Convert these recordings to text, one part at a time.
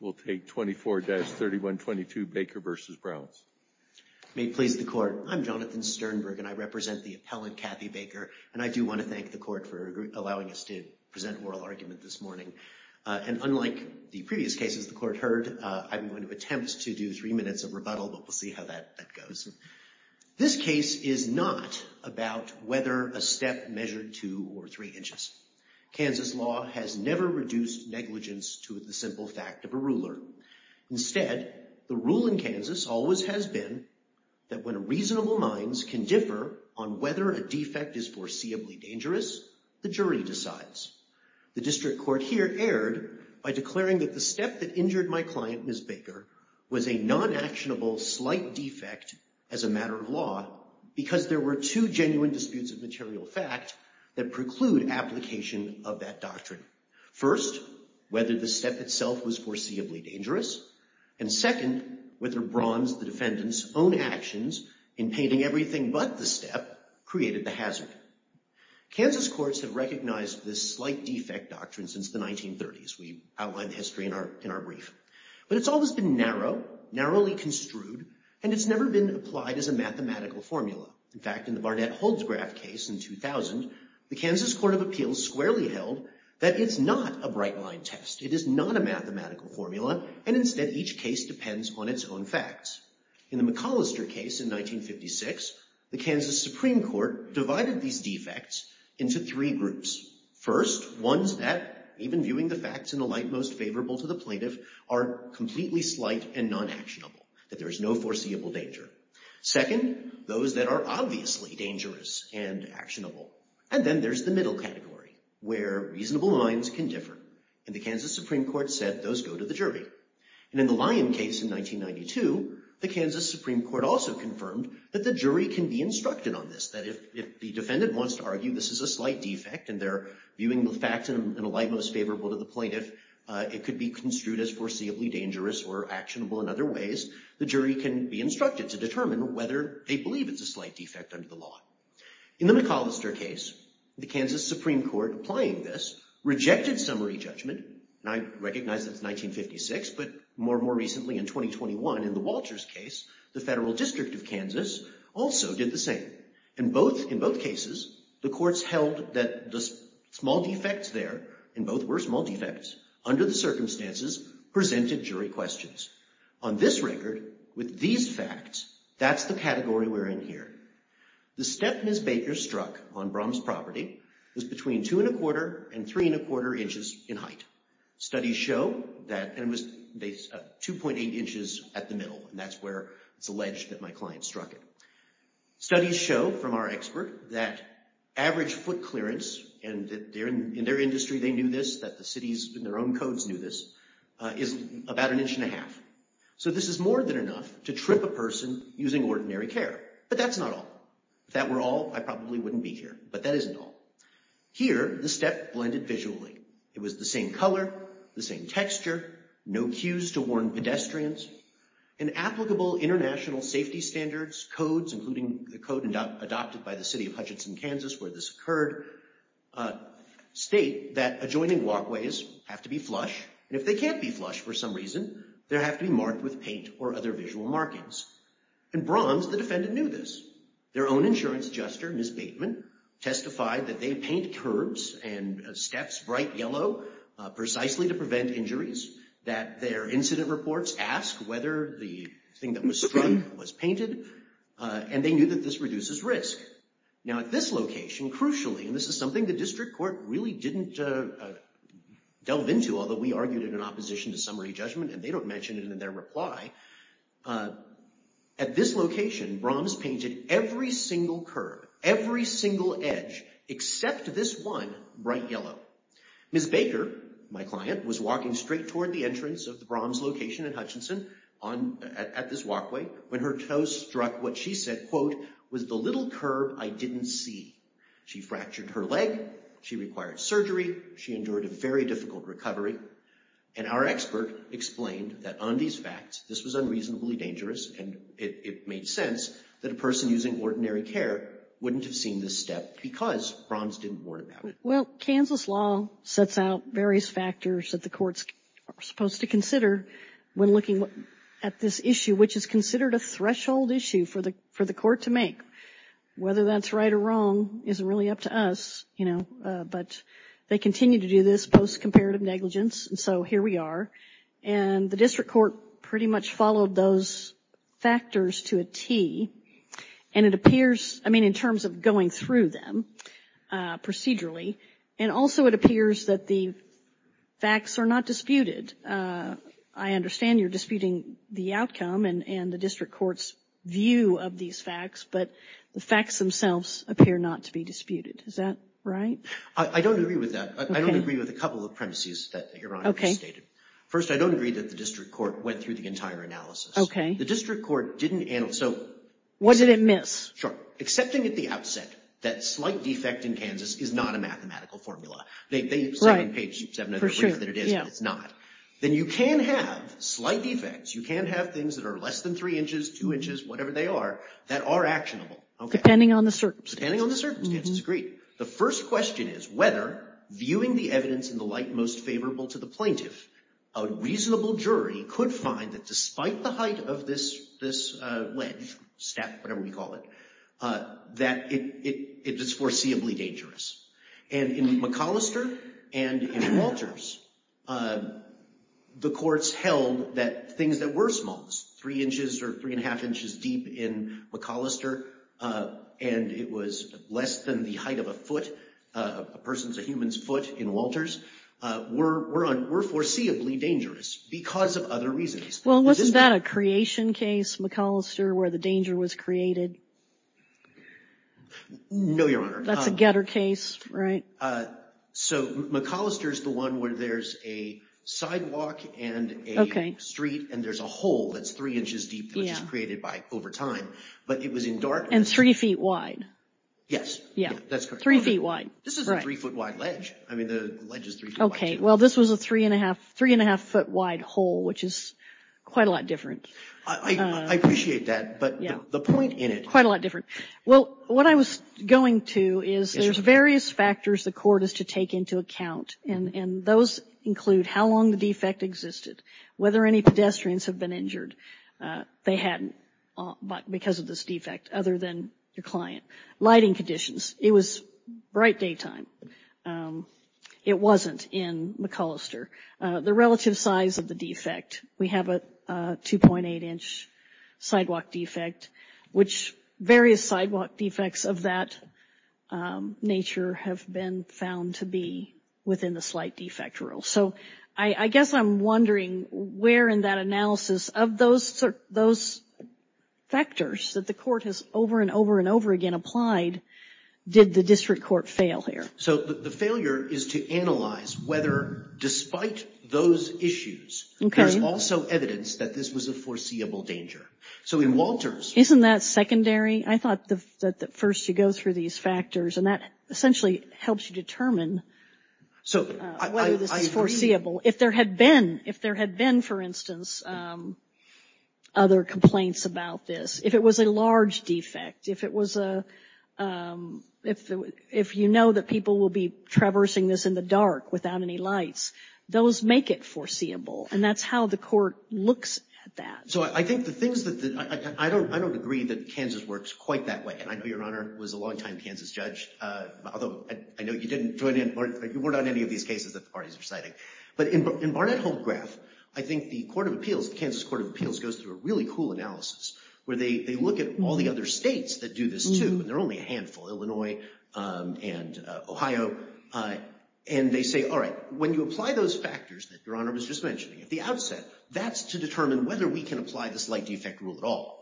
We'll take 24-3122 Baker v. Braum's. May it please the court, I'm Jonathan Sternberg and I represent the appellant, Kathy Baker, and I do want to thank the court for allowing us to present oral argument this morning. And unlike the previous cases the court heard, I'm going to attempt to do three minutes of rebuttal, but we'll see how that goes. This case is not about whether a step measured two or three inches. Kansas law has never reduced negligence to the simple fact of a ruler. Instead, the rule in Kansas always has been that when reasonable minds can differ on whether a defect is foreseeably dangerous, the jury decides. The district court here erred by declaring that the step that injured my client, Ms. Baker, was a non-actionable slight defect as a matter of law because there were two genuine disputes of material fact that preclude application of that doctrine. First, whether the step itself was foreseeably dangerous, and second, whether Braum's, the defendant's, own actions in painting everything but the step created the hazard. Kansas courts have recognized this slight defect doctrine since the 1930s. We outlined the history in our brief. But it's always been narrow, narrowly construed, and it's never been applied as a mathematical formula. In fact, in the Barnett-Holzgraf case in 2000, the Kansas Court of Appeals squarely held that it's not a bright-line test. It is not a mathematical formula, and instead, each case depends on its own facts. In the McAllister case in 1956, the Kansas Supreme Court divided these defects into three groups. First, ones that, even viewing the facts in the light most favorable to the plaintiff, are completely slight and non-actionable, that there is no foreseeable danger. Second, those that are obviously dangerous and actionable. And then there's the middle category, where reasonable minds can differ. And the Kansas Supreme Court said those go to the jury. And in the Lyon case in 1992, the Kansas Supreme Court also confirmed that the jury can be instructed on this, that if the defendant wants to argue this is a slight defect and they're viewing the facts in a light most favorable to the plaintiff, it could be construed as foreseeably dangerous or actionable in other ways, the jury can be instructed to determine whether they believe it's a slight defect under the law. In the McAllister case, the Kansas Supreme Court applying this rejected summary judgment, and I recognize that it's 1956, but more recently in 2021 in the Walters case, the Federal District of Kansas also did the same. In both cases, the courts held that the small defects there, and both were small defects, under the circumstances presented jury questions. On this record, with these facts, that's the category we're in here. The step Ms. Baker struck on Brahms property was between two and a quarter and three and a quarter inches in height. Studies show that it was 2.8 inches at the middle, and that's where it's alleged that my client struck it. Studies show from our expert that average foot clearance, and in their industry they knew this, that the cities in their own codes knew this, is about an inch and a half. So this is more than enough to trip a person using ordinary care, but that's not all. If that were all, I probably wouldn't be here, but that isn't all. Here, the step blended visually. It was the same color, the same texture, no cues to warn pedestrians, and applicable international safety standards, codes, including the code adopted by the city of Hutchinson, Kansas, where this occurred, state that adjoining walkways have to be flush, and if they can't be flush for some reason, there have to be marked with paint or other visual markings. In Bronze, the defendant knew this. Their own insurance adjuster, Ms. Bateman, testified that they paint curbs and steps bright yellow precisely to prevent injuries, that their incident reports asked whether the thing that was struck was painted, and they knew that this reduces risk. Now at this location, crucially, and this is something the district court really didn't delve into, although we argued it in opposition to summary judgment, and they don't mention it in their reply, at this location, Bronze painted every single curb, every single edge, except this one, bright yellow. Ms. Baker, my client, was walking straight toward the entrance of the Bronze location at Hutchinson, at this walkway, when her toes struck what she said, quote, was the little curb I didn't see. She fractured her leg, she required surgery, she endured a very difficult recovery, and our expert explained that on these facts, this was unreasonably dangerous, and it made sense that a person using ordinary care wouldn't have seen this step because Bronze didn't warn about it. Well, Kansas law sets out various factors that the courts are supposed to consider when looking at this issue, which is considered a threshold issue for the court to make. Whether that's right or wrong isn't really up to us, but they continue to do this post-comparative negligence, and so here we are, and the district court pretty much followed those factors to a T, and it appears, I mean, in terms of going through them, procedurally, and also it appears that the facts are not disputed. I understand you're disputing the outcome and the district court's view of these facts, but the facts themselves appear not to be disputed. Is that right? I don't agree with that. I don't agree with a couple of premises that your honor just stated. First, I don't agree that the district court went through the entire analysis. The district court didn't, so... What did it miss? Sure, accepting at the outset that slight defect in Kansas is not a mathematical formula. They say on page 700 that it is, but it's not. Then you can have slight defects, you can have things that are less than three inches, two inches, whatever they are, that are actionable. Depending on the circumstances. Agreed. The first question is whether, viewing the evidence in the light most favorable to the plaintiff, a reasonable jury could find that despite the height of this wedge, step, whatever we call it, that it is foreseeably dangerous. And in McAllister and in Walters, the courts held that things that were small, three inches or three and a half inches deep in McAllister, and it was less than the height of a foot, a person's or human's foot in Walters, were foreseeably dangerous because of other reasons. Well, wasn't that a creation case, McAllister, where the danger was created? No, Your Honor. That's a getter case, right? So McAllister's the one where there's a sidewalk and a street and there's a hole that's three inches deep that was created by, over time. But it was in dark- And three feet wide. Yes, that's correct. Three feet wide. This is a three foot wide ledge. I mean, the ledge is three feet wide too. Okay, well, this was a three and a half foot wide hole, which is quite a lot different. I appreciate that, but the point in it- Quite a lot different. Well, what I was going to is there's various factors the court is to take into account, and those include how long the defect existed, whether any pedestrians have been injured. They hadn't because of this defect other than the client. Lighting conditions. It was bright daytime. It wasn't in McAllister. The relative size of the defect. We have a 2.8 inch sidewalk defect, which various sidewalk defects of that nature have been found to be within the slight defect rule. So I guess I'm wondering where in that analysis of those factors that the court has over and over and over again applied, did the district court fail here? So the failure is to analyze whether, despite those issues, there's also evidence that this was a foreseeable danger. So in Walters- Isn't that secondary? I thought that first you go through these factors and that essentially helps you determine whether this is foreseeable. If there had been, for instance, other complaints about this, if it was a large defect, if you know that people will be traversing this in the dark without any lights, those make it foreseeable, and that's how the court looks at that. So I think the things that, I don't agree that Kansas works quite that way, and I know Your Honor was a long-time Kansas judge, although I know you weren't on any of these cases that the parties are citing. But in Barnett-Holmgraf, I think the Kansas Court of Appeals goes through a really cool analysis where they look at all the other states that do this too, and there are only a handful, Illinois and Ohio, and they say, all right, when you apply those factors that Your Honor was just mentioning at the outset, that's to determine whether we can apply this light defect rule at all.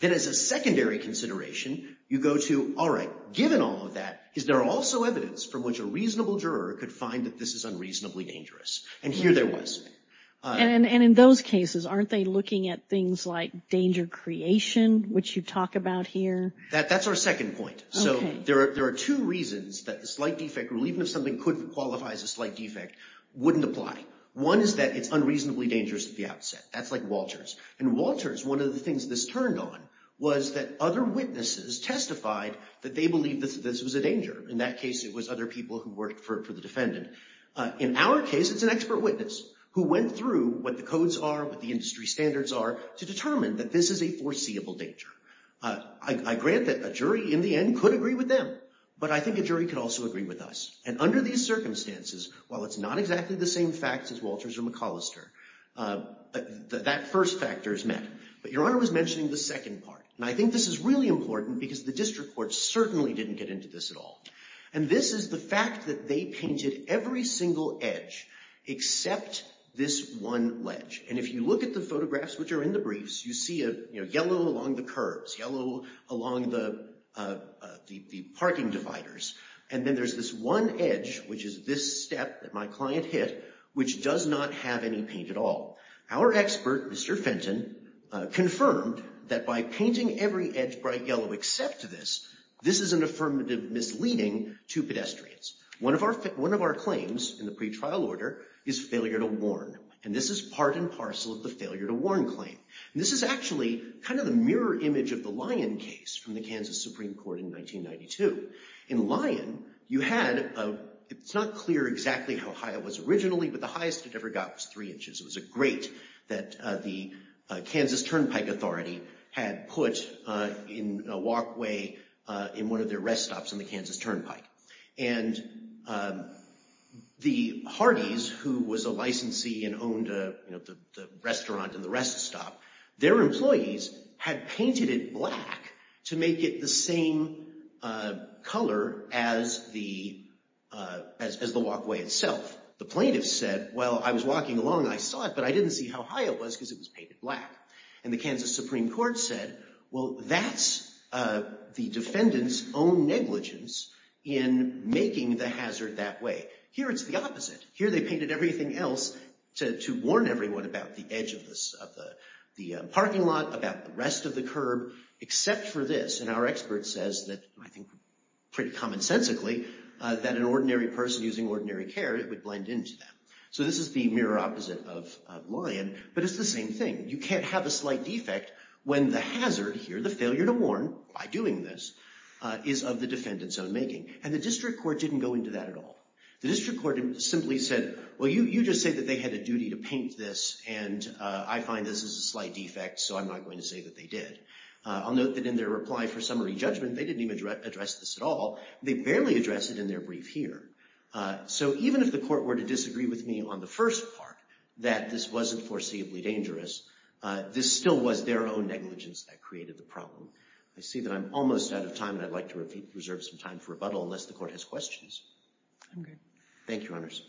Then as a secondary consideration, you go to, all right, given all of that, is there also evidence from which a reasonable juror could find that this is unreasonably dangerous? And here there was. And in those cases, aren't they looking at things like danger creation, which you talk about here? That's our second point. So there are two reasons that the slight defect rule, even if something could qualify as a slight defect, wouldn't apply. One is that it's unreasonably dangerous at the outset. That's like Walters. In Walters, one of the things this turned on was that other witnesses testified that they believed that this was a danger. In that case, it was other people who worked for the defendant. In our case, it's an expert witness who went through what the codes are, what the industry standards are, to determine that this is a foreseeable danger. I grant that a jury, in the end, could agree with them. But I think a jury could also agree with us. And under these circumstances, while it's not exactly the same facts as Walters or McAllister, that first factor is met. But Your Honor was mentioning the second part. And I think this is really important because the district courts certainly didn't get into this at all. And this is the fact that they painted every single edge except this one ledge. And if you look at the photographs which are in the briefs, you see yellow along the curves, yellow along the parking dividers. And then there's this one edge, which is this step that my client hit, which does not have any paint at all. Our expert, Mr. Fenton, confirmed that by painting every edge bright yellow except this, this is an affirmative misleading to pedestrians. One of our claims in the pretrial order is failure to warn. And this is part and parcel of the failure to warn claim. And this is actually kind of the mirror image of the Lyon case from the Kansas Supreme Court in 1992. In Lyon, you had, it's not clear exactly how high it was originally, but the highest it ever got was three inches. It was a great that the Kansas Turnpike Authority had put in a walkway in one of their rest stops in the Kansas Turnpike. And the Hardees, who was a licensee and owned the restaurant and the rest stop, their employees had painted it black to make it the same color as the walkway itself. The plaintiff said, well, I was walking along and I saw it, but I didn't see how high it was because it was painted black. And the Kansas Supreme Court said, well, that's the defendant's own negligence in making the hazard that way. Here it's the opposite. Here they painted everything else to warn everyone about the edge of the parking lot, about the rest of the curb, except for this. And our expert says that, I think pretty commonsensically, that an ordinary person using ordinary care, it would blend into that. So this is the mirror opposite of Lyon, but it's the same thing. You can't have a slight defect when the hazard here, the failure to warn by doing this, is of the defendant's own making. And the district court didn't go into that at all. The district court simply said, well, you just say that they had a duty to paint this and I find this is a slight defect, so I'm not going to say that they did. I'll note that in their reply for summary judgment, they didn't even address this at all. They barely addressed it in their brief here. So even if the court were to disagree with me on the first part, that this wasn't foreseeably dangerous, this still was their own negligence that created the problem. I see that I'm almost out of time and I'd like to reserve some time for rebuttal unless the court has questions. Okay. Thank you, Honors.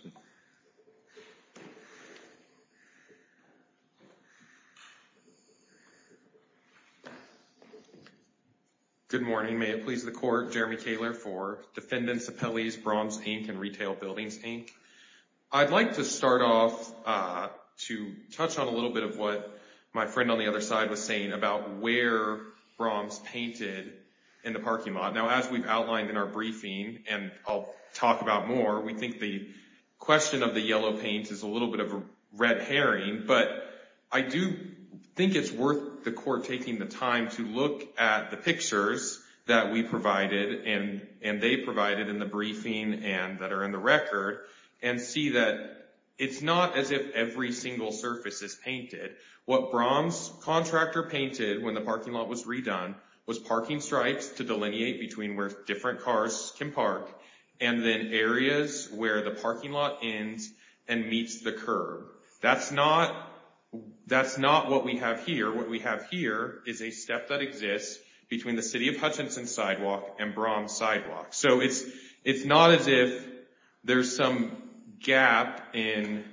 Good morning. May it please the court, Jeremy Taylor for Defendant's Appellees, Bronze, Inc., and Retail Buildings, Inc. I'd like to start off to touch on a little bit of what my friend on the other side was saying about where Bronze painted in the parking lot. Now, as we've outlined in our briefing, and I'll talk about more, we think the question of the yellow paint is a little bit of a red herring, but I do think it's worth the court taking the time to look at the pictures that we provided and they provided in the briefing and that are in the record and see that it's not as if every single surface is painted. What Bronze's contractor painted when the parking lot was redone was parking stripes to delineate between where different cars can park and then areas where the parking lot ends and meets the curb. That's not what we have here. What we have here is a step that exists between the City of Hutchinson sidewalk and Bronze sidewalk. So it's not as if there's some gap in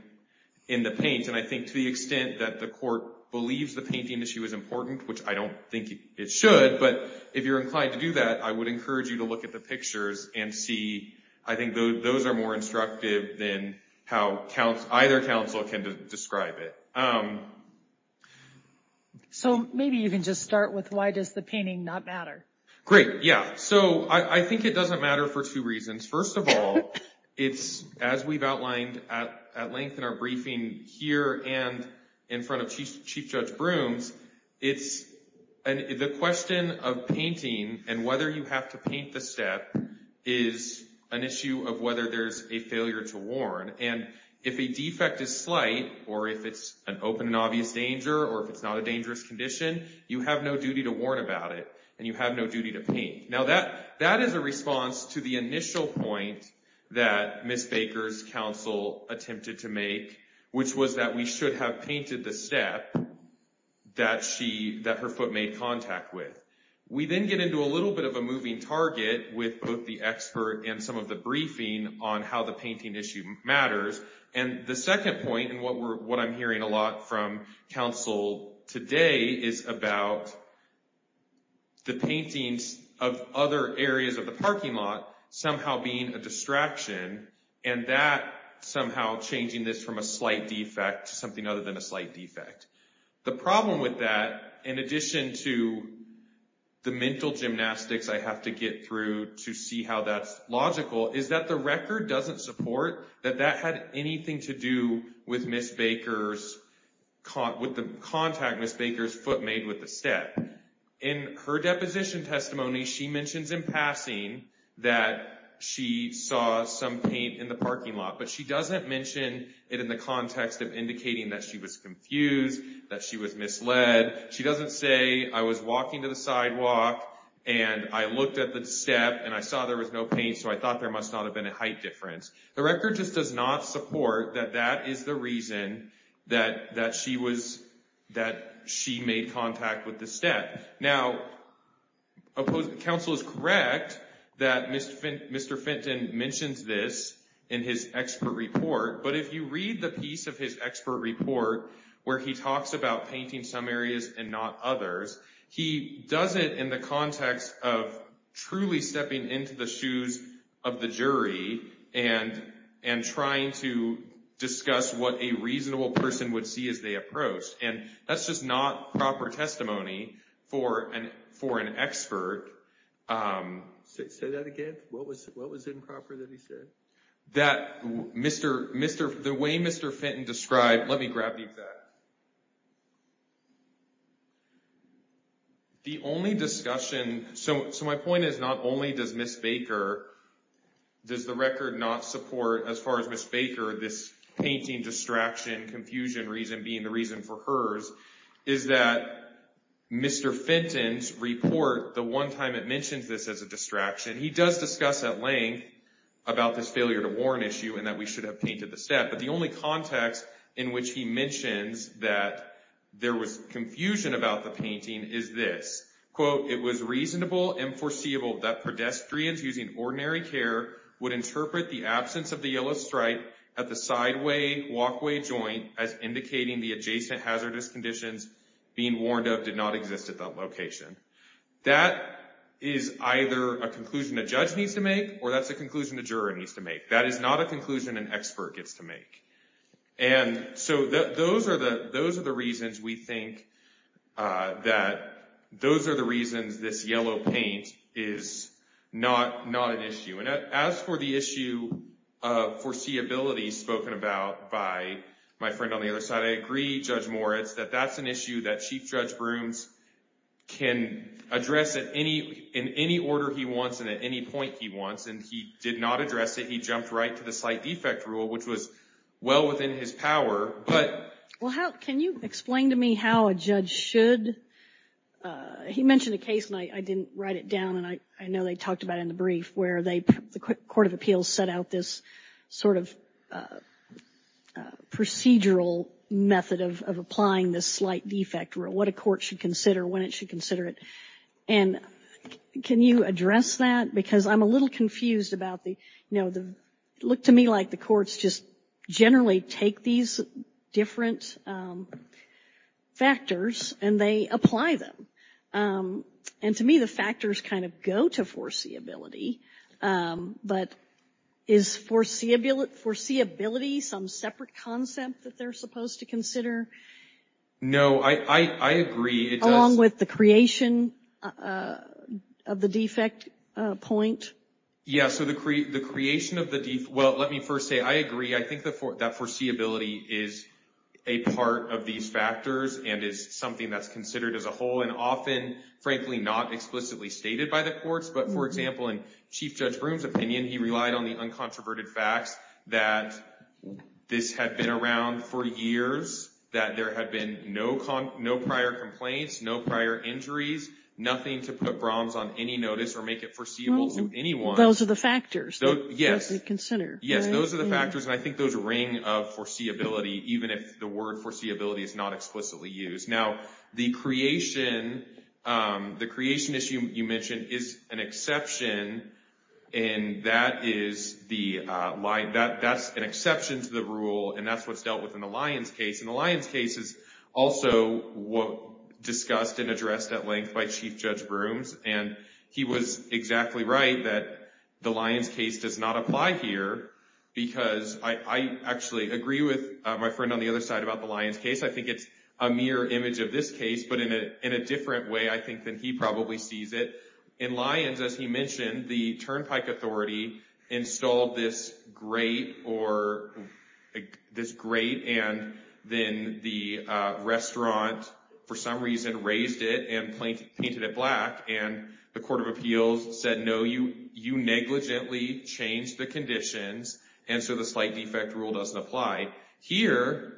the paint, and I think to the extent that the court believes the painting issue is important, which I don't think it should, but if you're inclined to do that, I would encourage you to look at the pictures and see, I think those are more instructive than how either council can describe it. So maybe you can just start with why does the painting not matter? Great, yeah. So I think it doesn't matter for two reasons. First of all, it's, as we've outlined at length in our briefing here and in front of Chief Judge Brooms, it's the question of painting and whether you have to paint the step is an issue of whether there's a failure to warn. And if a defect is slight or if it's an open and obvious danger or if it's not a dangerous condition, you have no duty to warn about it and you have no duty to paint. That is a response to the initial point that Ms. Baker's council attempted to make, which was that we should have painted the step that her foot made contact with. We then get into a little bit of a moving target with both the expert and some of the briefing on how the painting issue matters. And the second point, and what I'm hearing a lot from council today is about the paintings of other areas of the parking lot somehow being a distraction and that somehow changing this from a slight defect to something other than a slight defect. The problem with that, in addition to the mental gymnastics I have to get through to see how that's logical, is that the record doesn't support that that had anything to do with Ms. Baker's, with the contact Ms. Baker's foot made with the step. In her deposition testimony, she mentions in passing that she saw some paint in the parking lot, but she doesn't mention it in the context of indicating that she was confused, that she was misled. She doesn't say I was walking to the sidewalk and I looked at the step and I saw there was no paint, so I thought there must not have been a height difference. The record just does not support that that is the reason that she was, that she made contact with the step. Now, council is correct that Mr. Fenton mentions this in his expert report, but if you read the piece of his expert report where he talks about painting some areas and not others, he does it in the context of truly stepping into the shoes of the jury and trying to discuss what a reasonable person would see as they approach, and that's just not proper testimony for an expert. Say that again? What was improper that he said? That Mr., the way Mr. Fenton described, let me grab that. The only discussion, so my point is not only does Ms. Baker, does the record not support, as far as Ms. Baker, this painting distraction, confusion reason being the reason for hers, is that Mr. Fenton's report, the one time it mentions this as a distraction, he does discuss at length about this failure to warn issue and that we should have painted the step, but the only context in which he mentions that there was confusion about the painting is this. Quote, it was reasonable and foreseeable that pedestrians using ordinary care would interpret the absence of the yellow stripe at the sideway walkway joint as indicating the adjacent hazardous conditions being warned of did not exist at that location. That is either a conclusion a judge needs to make or that's a conclusion a juror needs to make. That is not a conclusion an expert gets to make, and so those are the reasons we think that those are the reasons this yellow paint is not an issue. And as for the issue of foreseeability spoken about by my friend on the other side, I agree, Judge Moritz, that that's an issue that Chief Judge Brooms can address in any order he wants and at any point he wants, and he did not address it. He jumped right to the slight defect rule, which was well within his power, but. Well, can you explain to me how a judge should, he mentioned a case and I didn't write it down and I know they talked about it in the brief where the Court of Appeals set out this sort of procedural method of applying this slight defect rule, what a court should consider, when it should consider it, and can you address that? Because I'm a little confused about the, you know, it looked to me like the courts just generally take these different factors and they apply them. And to me, the factors kind of go to foreseeability, but is foreseeability some separate concept that they're supposed to consider? No, I agree, it does. Along with the creation of the defect point? Yeah, so the creation of the, well, let me first say, I agree, I think that foreseeability is a part of these factors and is something that's considered as a whole and often, frankly, not explicitly stated by the courts, but for example, in Chief Judge Broome's opinion, he relied on the uncontroverted facts that this had been around for years, that there had been no prior complaints, no prior injuries, nothing to put Brahms on any notice or make it foreseeable to anyone. Those are the factors that they consider, right? Those are the factors and I think those ring of foreseeability, even if the word foreseeability is not explicitly used. Now, the creation issue you mentioned is an exception and that is the, that's an exception to the rule and that's what's dealt with in the Lyons case and the Lyons case is also discussed and addressed at length by Chief Judge Broome's and he was exactly right that the Lyons case does not apply here because I actually agree with my friend on the other side about the Lyons case. I think it's a mirror image of this case, but in a different way, I think, than he probably sees it. In Lyons, as he mentioned, the Turnpike Authority installed this grate or this grate and then the restaurant, for some reason, raised it and painted it black and the Court of Appeals said, no, you negligently changed the conditions and so the slight defect rule doesn't apply. Here,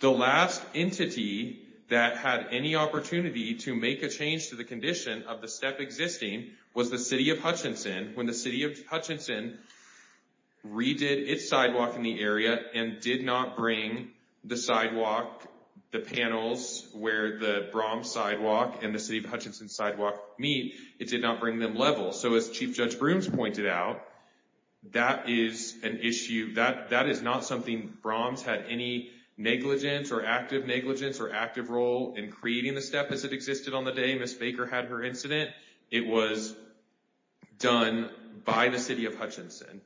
the last entity that had any opportunity to make a change to the condition of the step existing was the City of Hutchinson. When the City of Hutchinson redid its sidewalk in the area and did not bring the sidewalk, the panels, where the Brahms sidewalk and the City of Hutchinson sidewalk meet, it did not bring them level. So as Chief Judge Broome's pointed out, that is an issue, that is not something Brahms had any negligence or active negligence or active role in creating the step as it existed on the day Ms. Baker had her incident. It was done by the City of Hutchinson.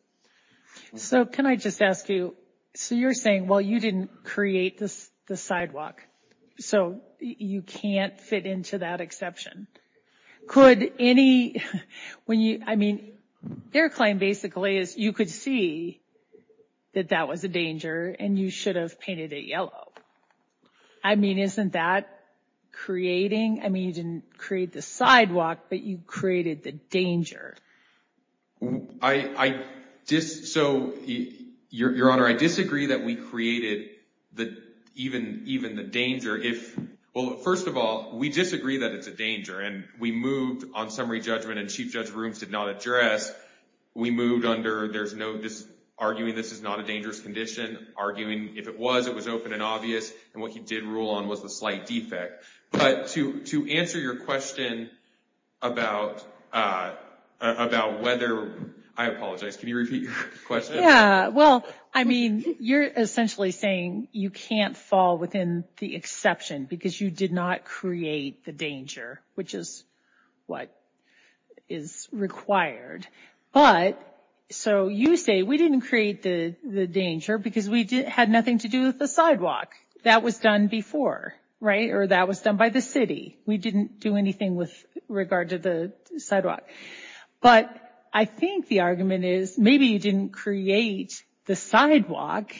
So can I just ask you, so you're saying, well, you didn't create the sidewalk. So you can't fit into that exception. Could any, when you, I mean, their claim basically is you could see that that was a danger and you should have painted it yellow. I mean, isn't that creating, I mean, you didn't create the sidewalk, but you created the danger. I just, so Your Honor, I disagree that we created the, even the danger if, well, first of all, we disagree that it's a danger and we moved on summary judgment and Chief Judge Broome's did not address. We moved under, there's no arguing this is not a dangerous condition, arguing if it was, it was open and obvious. And what he did rule on was the slight defect. But to answer your question about whether, I apologize, can you repeat your question? Yeah, well, I mean, you're essentially saying you can't fall within the exception because you did not create the danger, which is what is required. But, so you say we didn't create the danger because we had nothing to do with the sidewalk. That was done before, right? Or that was done by the city. We didn't do anything with regard to the sidewalk. But I think the argument is, maybe you didn't create the sidewalk,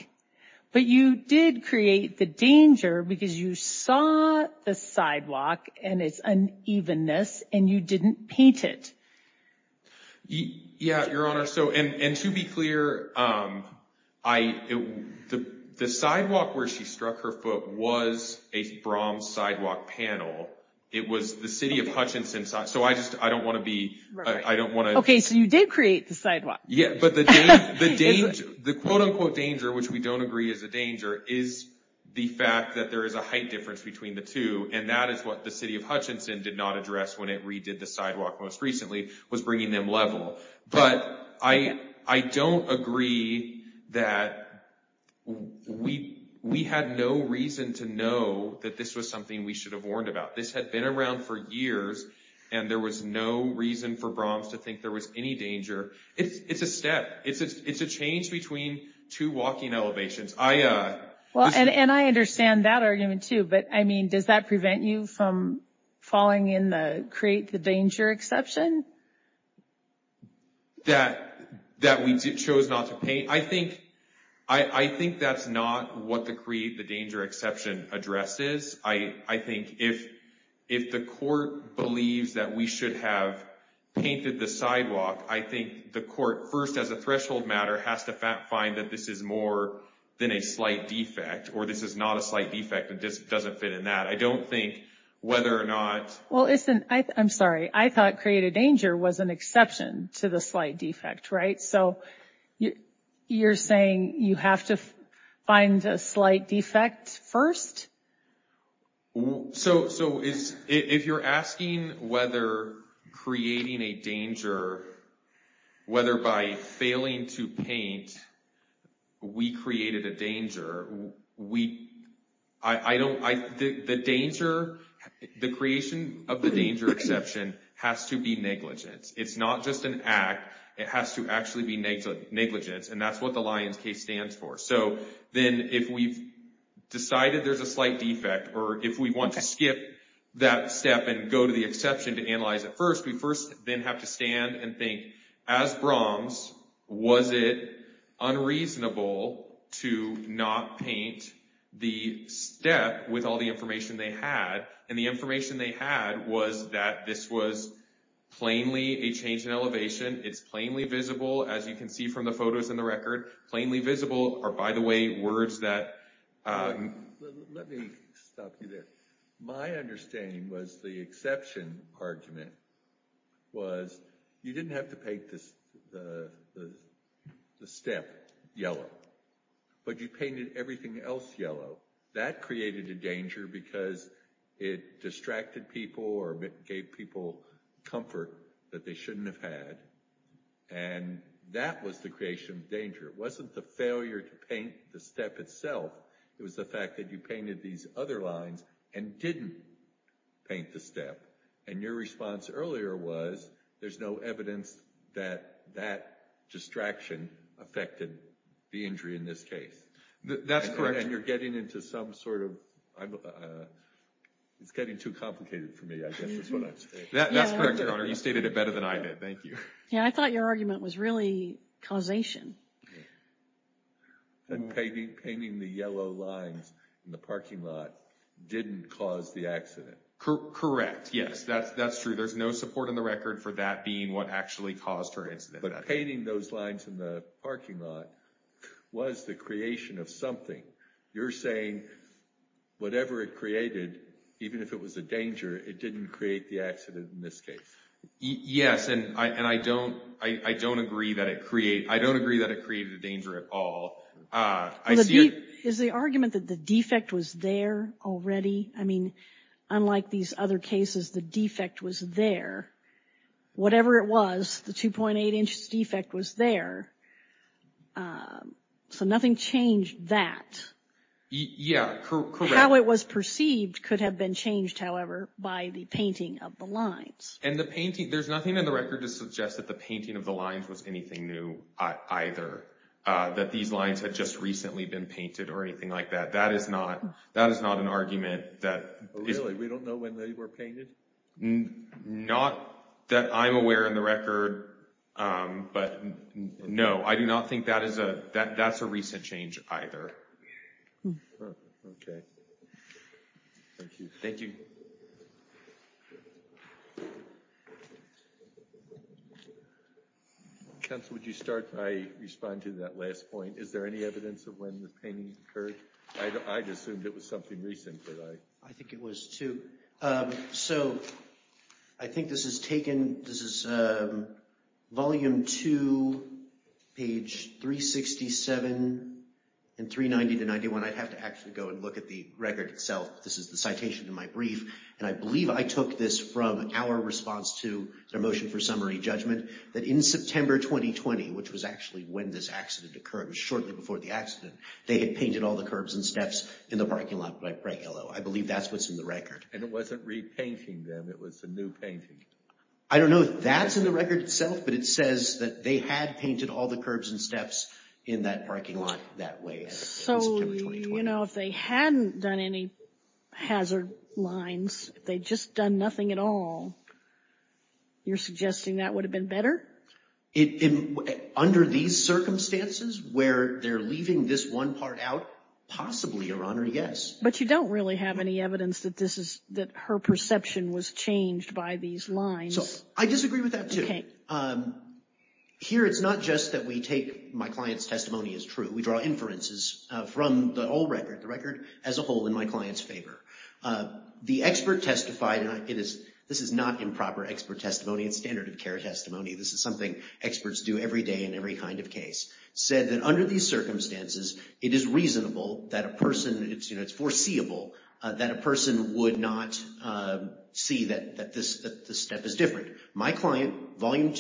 but you did create the danger because you saw the sidewalk and its unevenness and you didn't paint it. Yeah, Your Honor, so, and to be clear, the sidewalk where she struck her foot was a Brahms sidewalk panel. It was the city of Hutchinson sidewalk. So I just, I don't wanna be, I don't wanna. Okay, so you did create the sidewalk. Yeah, but the quote unquote danger, which we don't agree is a danger, is the fact that there is a height difference between the two. And that is what the city of Hutchinson did not address when it redid the sidewalk most recently, was bringing them level. But I don't agree that we had no reason to know that this was something we should have warned about. This had been around for years. And there was no reason for Brahms to think there was any danger. It's a step. It's a change between two walking elevations. I, this is- Well, and I understand that argument too, but I mean, does that prevent you from falling in the create the danger exception? That we chose not to paint. I think that's not what the create the danger exception addresses. I think if the court believes that we should have painted the sidewalk, I think the court first as a threshold matter has to find that this is more than a slight defect, or this is not a slight defect, and this doesn't fit in that. I don't think whether or not- Well, listen, I'm sorry. I thought create a danger was an exception to the slight defect, right? So you're saying you have to find a slight defect first, so if you're asking whether creating a danger, whether by failing to paint, we created a danger, we, I don't, the danger, the creation of the danger exception has to be negligent. It's not just an act. It has to actually be negligence, and that's what the Lyons case stands for. So then if we've decided there's a slight defect, or if we want to skip that step and go to the exception to analyze it first, we first then have to stand and think, as Brahms, was it unreasonable to not paint the step with all the information they had? And the information they had was that this was plainly a change in elevation. It's plainly visible, as you can see from the photos in the record, plainly visible are, by the way, words that, let me stop you there. My understanding was the exception argument was you didn't have to paint the step yellow, but you painted everything else yellow. That created a danger because it distracted people or gave people comfort that they shouldn't have had, and that was the creation of danger. It wasn't the failure to paint the step itself. It was the fact that you painted these other lines and didn't paint the step, and your response earlier was there's no evidence that that distraction affected the injury in this case. That's correct. And you're getting into some sort of, it's getting too complicated for me, I guess is what I'm saying. That's correct, Your Honor. You stated it better than I did. Thank you. Yeah, I thought your argument was really causation. And painting the yellow lines in the parking lot didn't cause the accident. Correct, yes, that's true. There's no support in the record for that being what actually caused her incident. But painting those lines in the parking lot was the creation of something. You're saying whatever it created, even if it was a danger, it didn't create the accident in this case. Yes, and I don't agree that it created a danger at all. Is the argument that the defect was there already? I mean, unlike these other cases, the defect was there. Whatever it was, the 2.8 inch defect was there. So nothing changed that. Yeah, correct. How it was perceived could have been changed, however, by the painting of the lines. There's nothing in the record to suggest that the painting of the lines was anything new either, that these lines had just recently been painted or anything like that. That is not an argument that is... Really, we don't know when they were painted? Not that I'm aware in the record, but no, I do not think that's a recent change either. Okay, thank you. Thank you. Counsel, would you start? I respond to that last point. Is there any evidence of when the painting occurred? I'd assumed it was something recent, but I... I think it was too. So I think this is taken, this is volume two, page 367 and 390 to 91. I'd have to actually go and look at the record itself. This is the citation in my brief, and I believe I took this from our response to their motion for summary judgment, that in September 2020, which was actually when this accident occurred, it was shortly before the accident, they had painted all the curbs and steps in the parking lot bright yellow. I believe that's what's in the record. And it wasn't repainting them, it was a new painting. I don't know if that's in the record itself, but it says that they had painted all the curbs and steps in that parking lot that way. So, you know, if they hadn't done any hazard lines, if they'd just done nothing at all, you're suggesting that would have been better? Under these circumstances, where they're leaving this one part out, possibly, Your Honor, yes. But you don't really have any evidence that her perception was changed by these lines. I disagree with that, too. Here, it's not just that we take, my client's testimony is true, but we draw inferences from the whole record, the record as a whole in my client's favor. The expert testified, and this is not improper expert testimony, it's standard of care testimony, this is something experts do every day in every kind of case, said that under these circumstances, it is reasonable that a person, it's foreseeable, that a person would not see that this step is different. My client, volume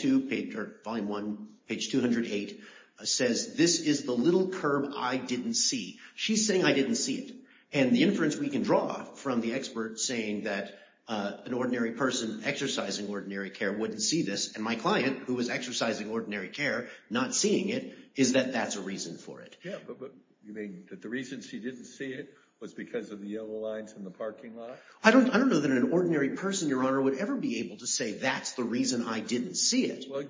one, page 208, says this is the little curb I didn't see. She's saying I didn't see it. And the inference we can draw from the expert saying that an ordinary person exercising ordinary care wouldn't see this, and my client, who was exercising ordinary care, not seeing it, is that that's a reason for it. Yeah, but you mean that the reason she didn't see it was because of the yellow lines in the parking lot? I don't know that an ordinary person, Your Honor, would ever be able to say that's the reason I didn't see it. Well,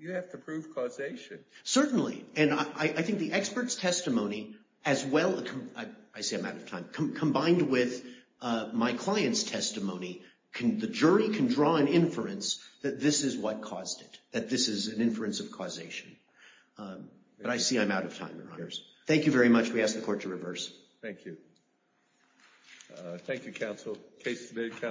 you have to prove causation. Certainly, and I think the expert's testimony, as well, I say I'm out of time, combined with my client's testimony, the jury can draw an inference that this is what caused it, that this is an inference of causation. But I see I'm out of time, Your Honors. Thank you very much, we ask the court to reverse. Thank you. Thank you, counsel, case submitted.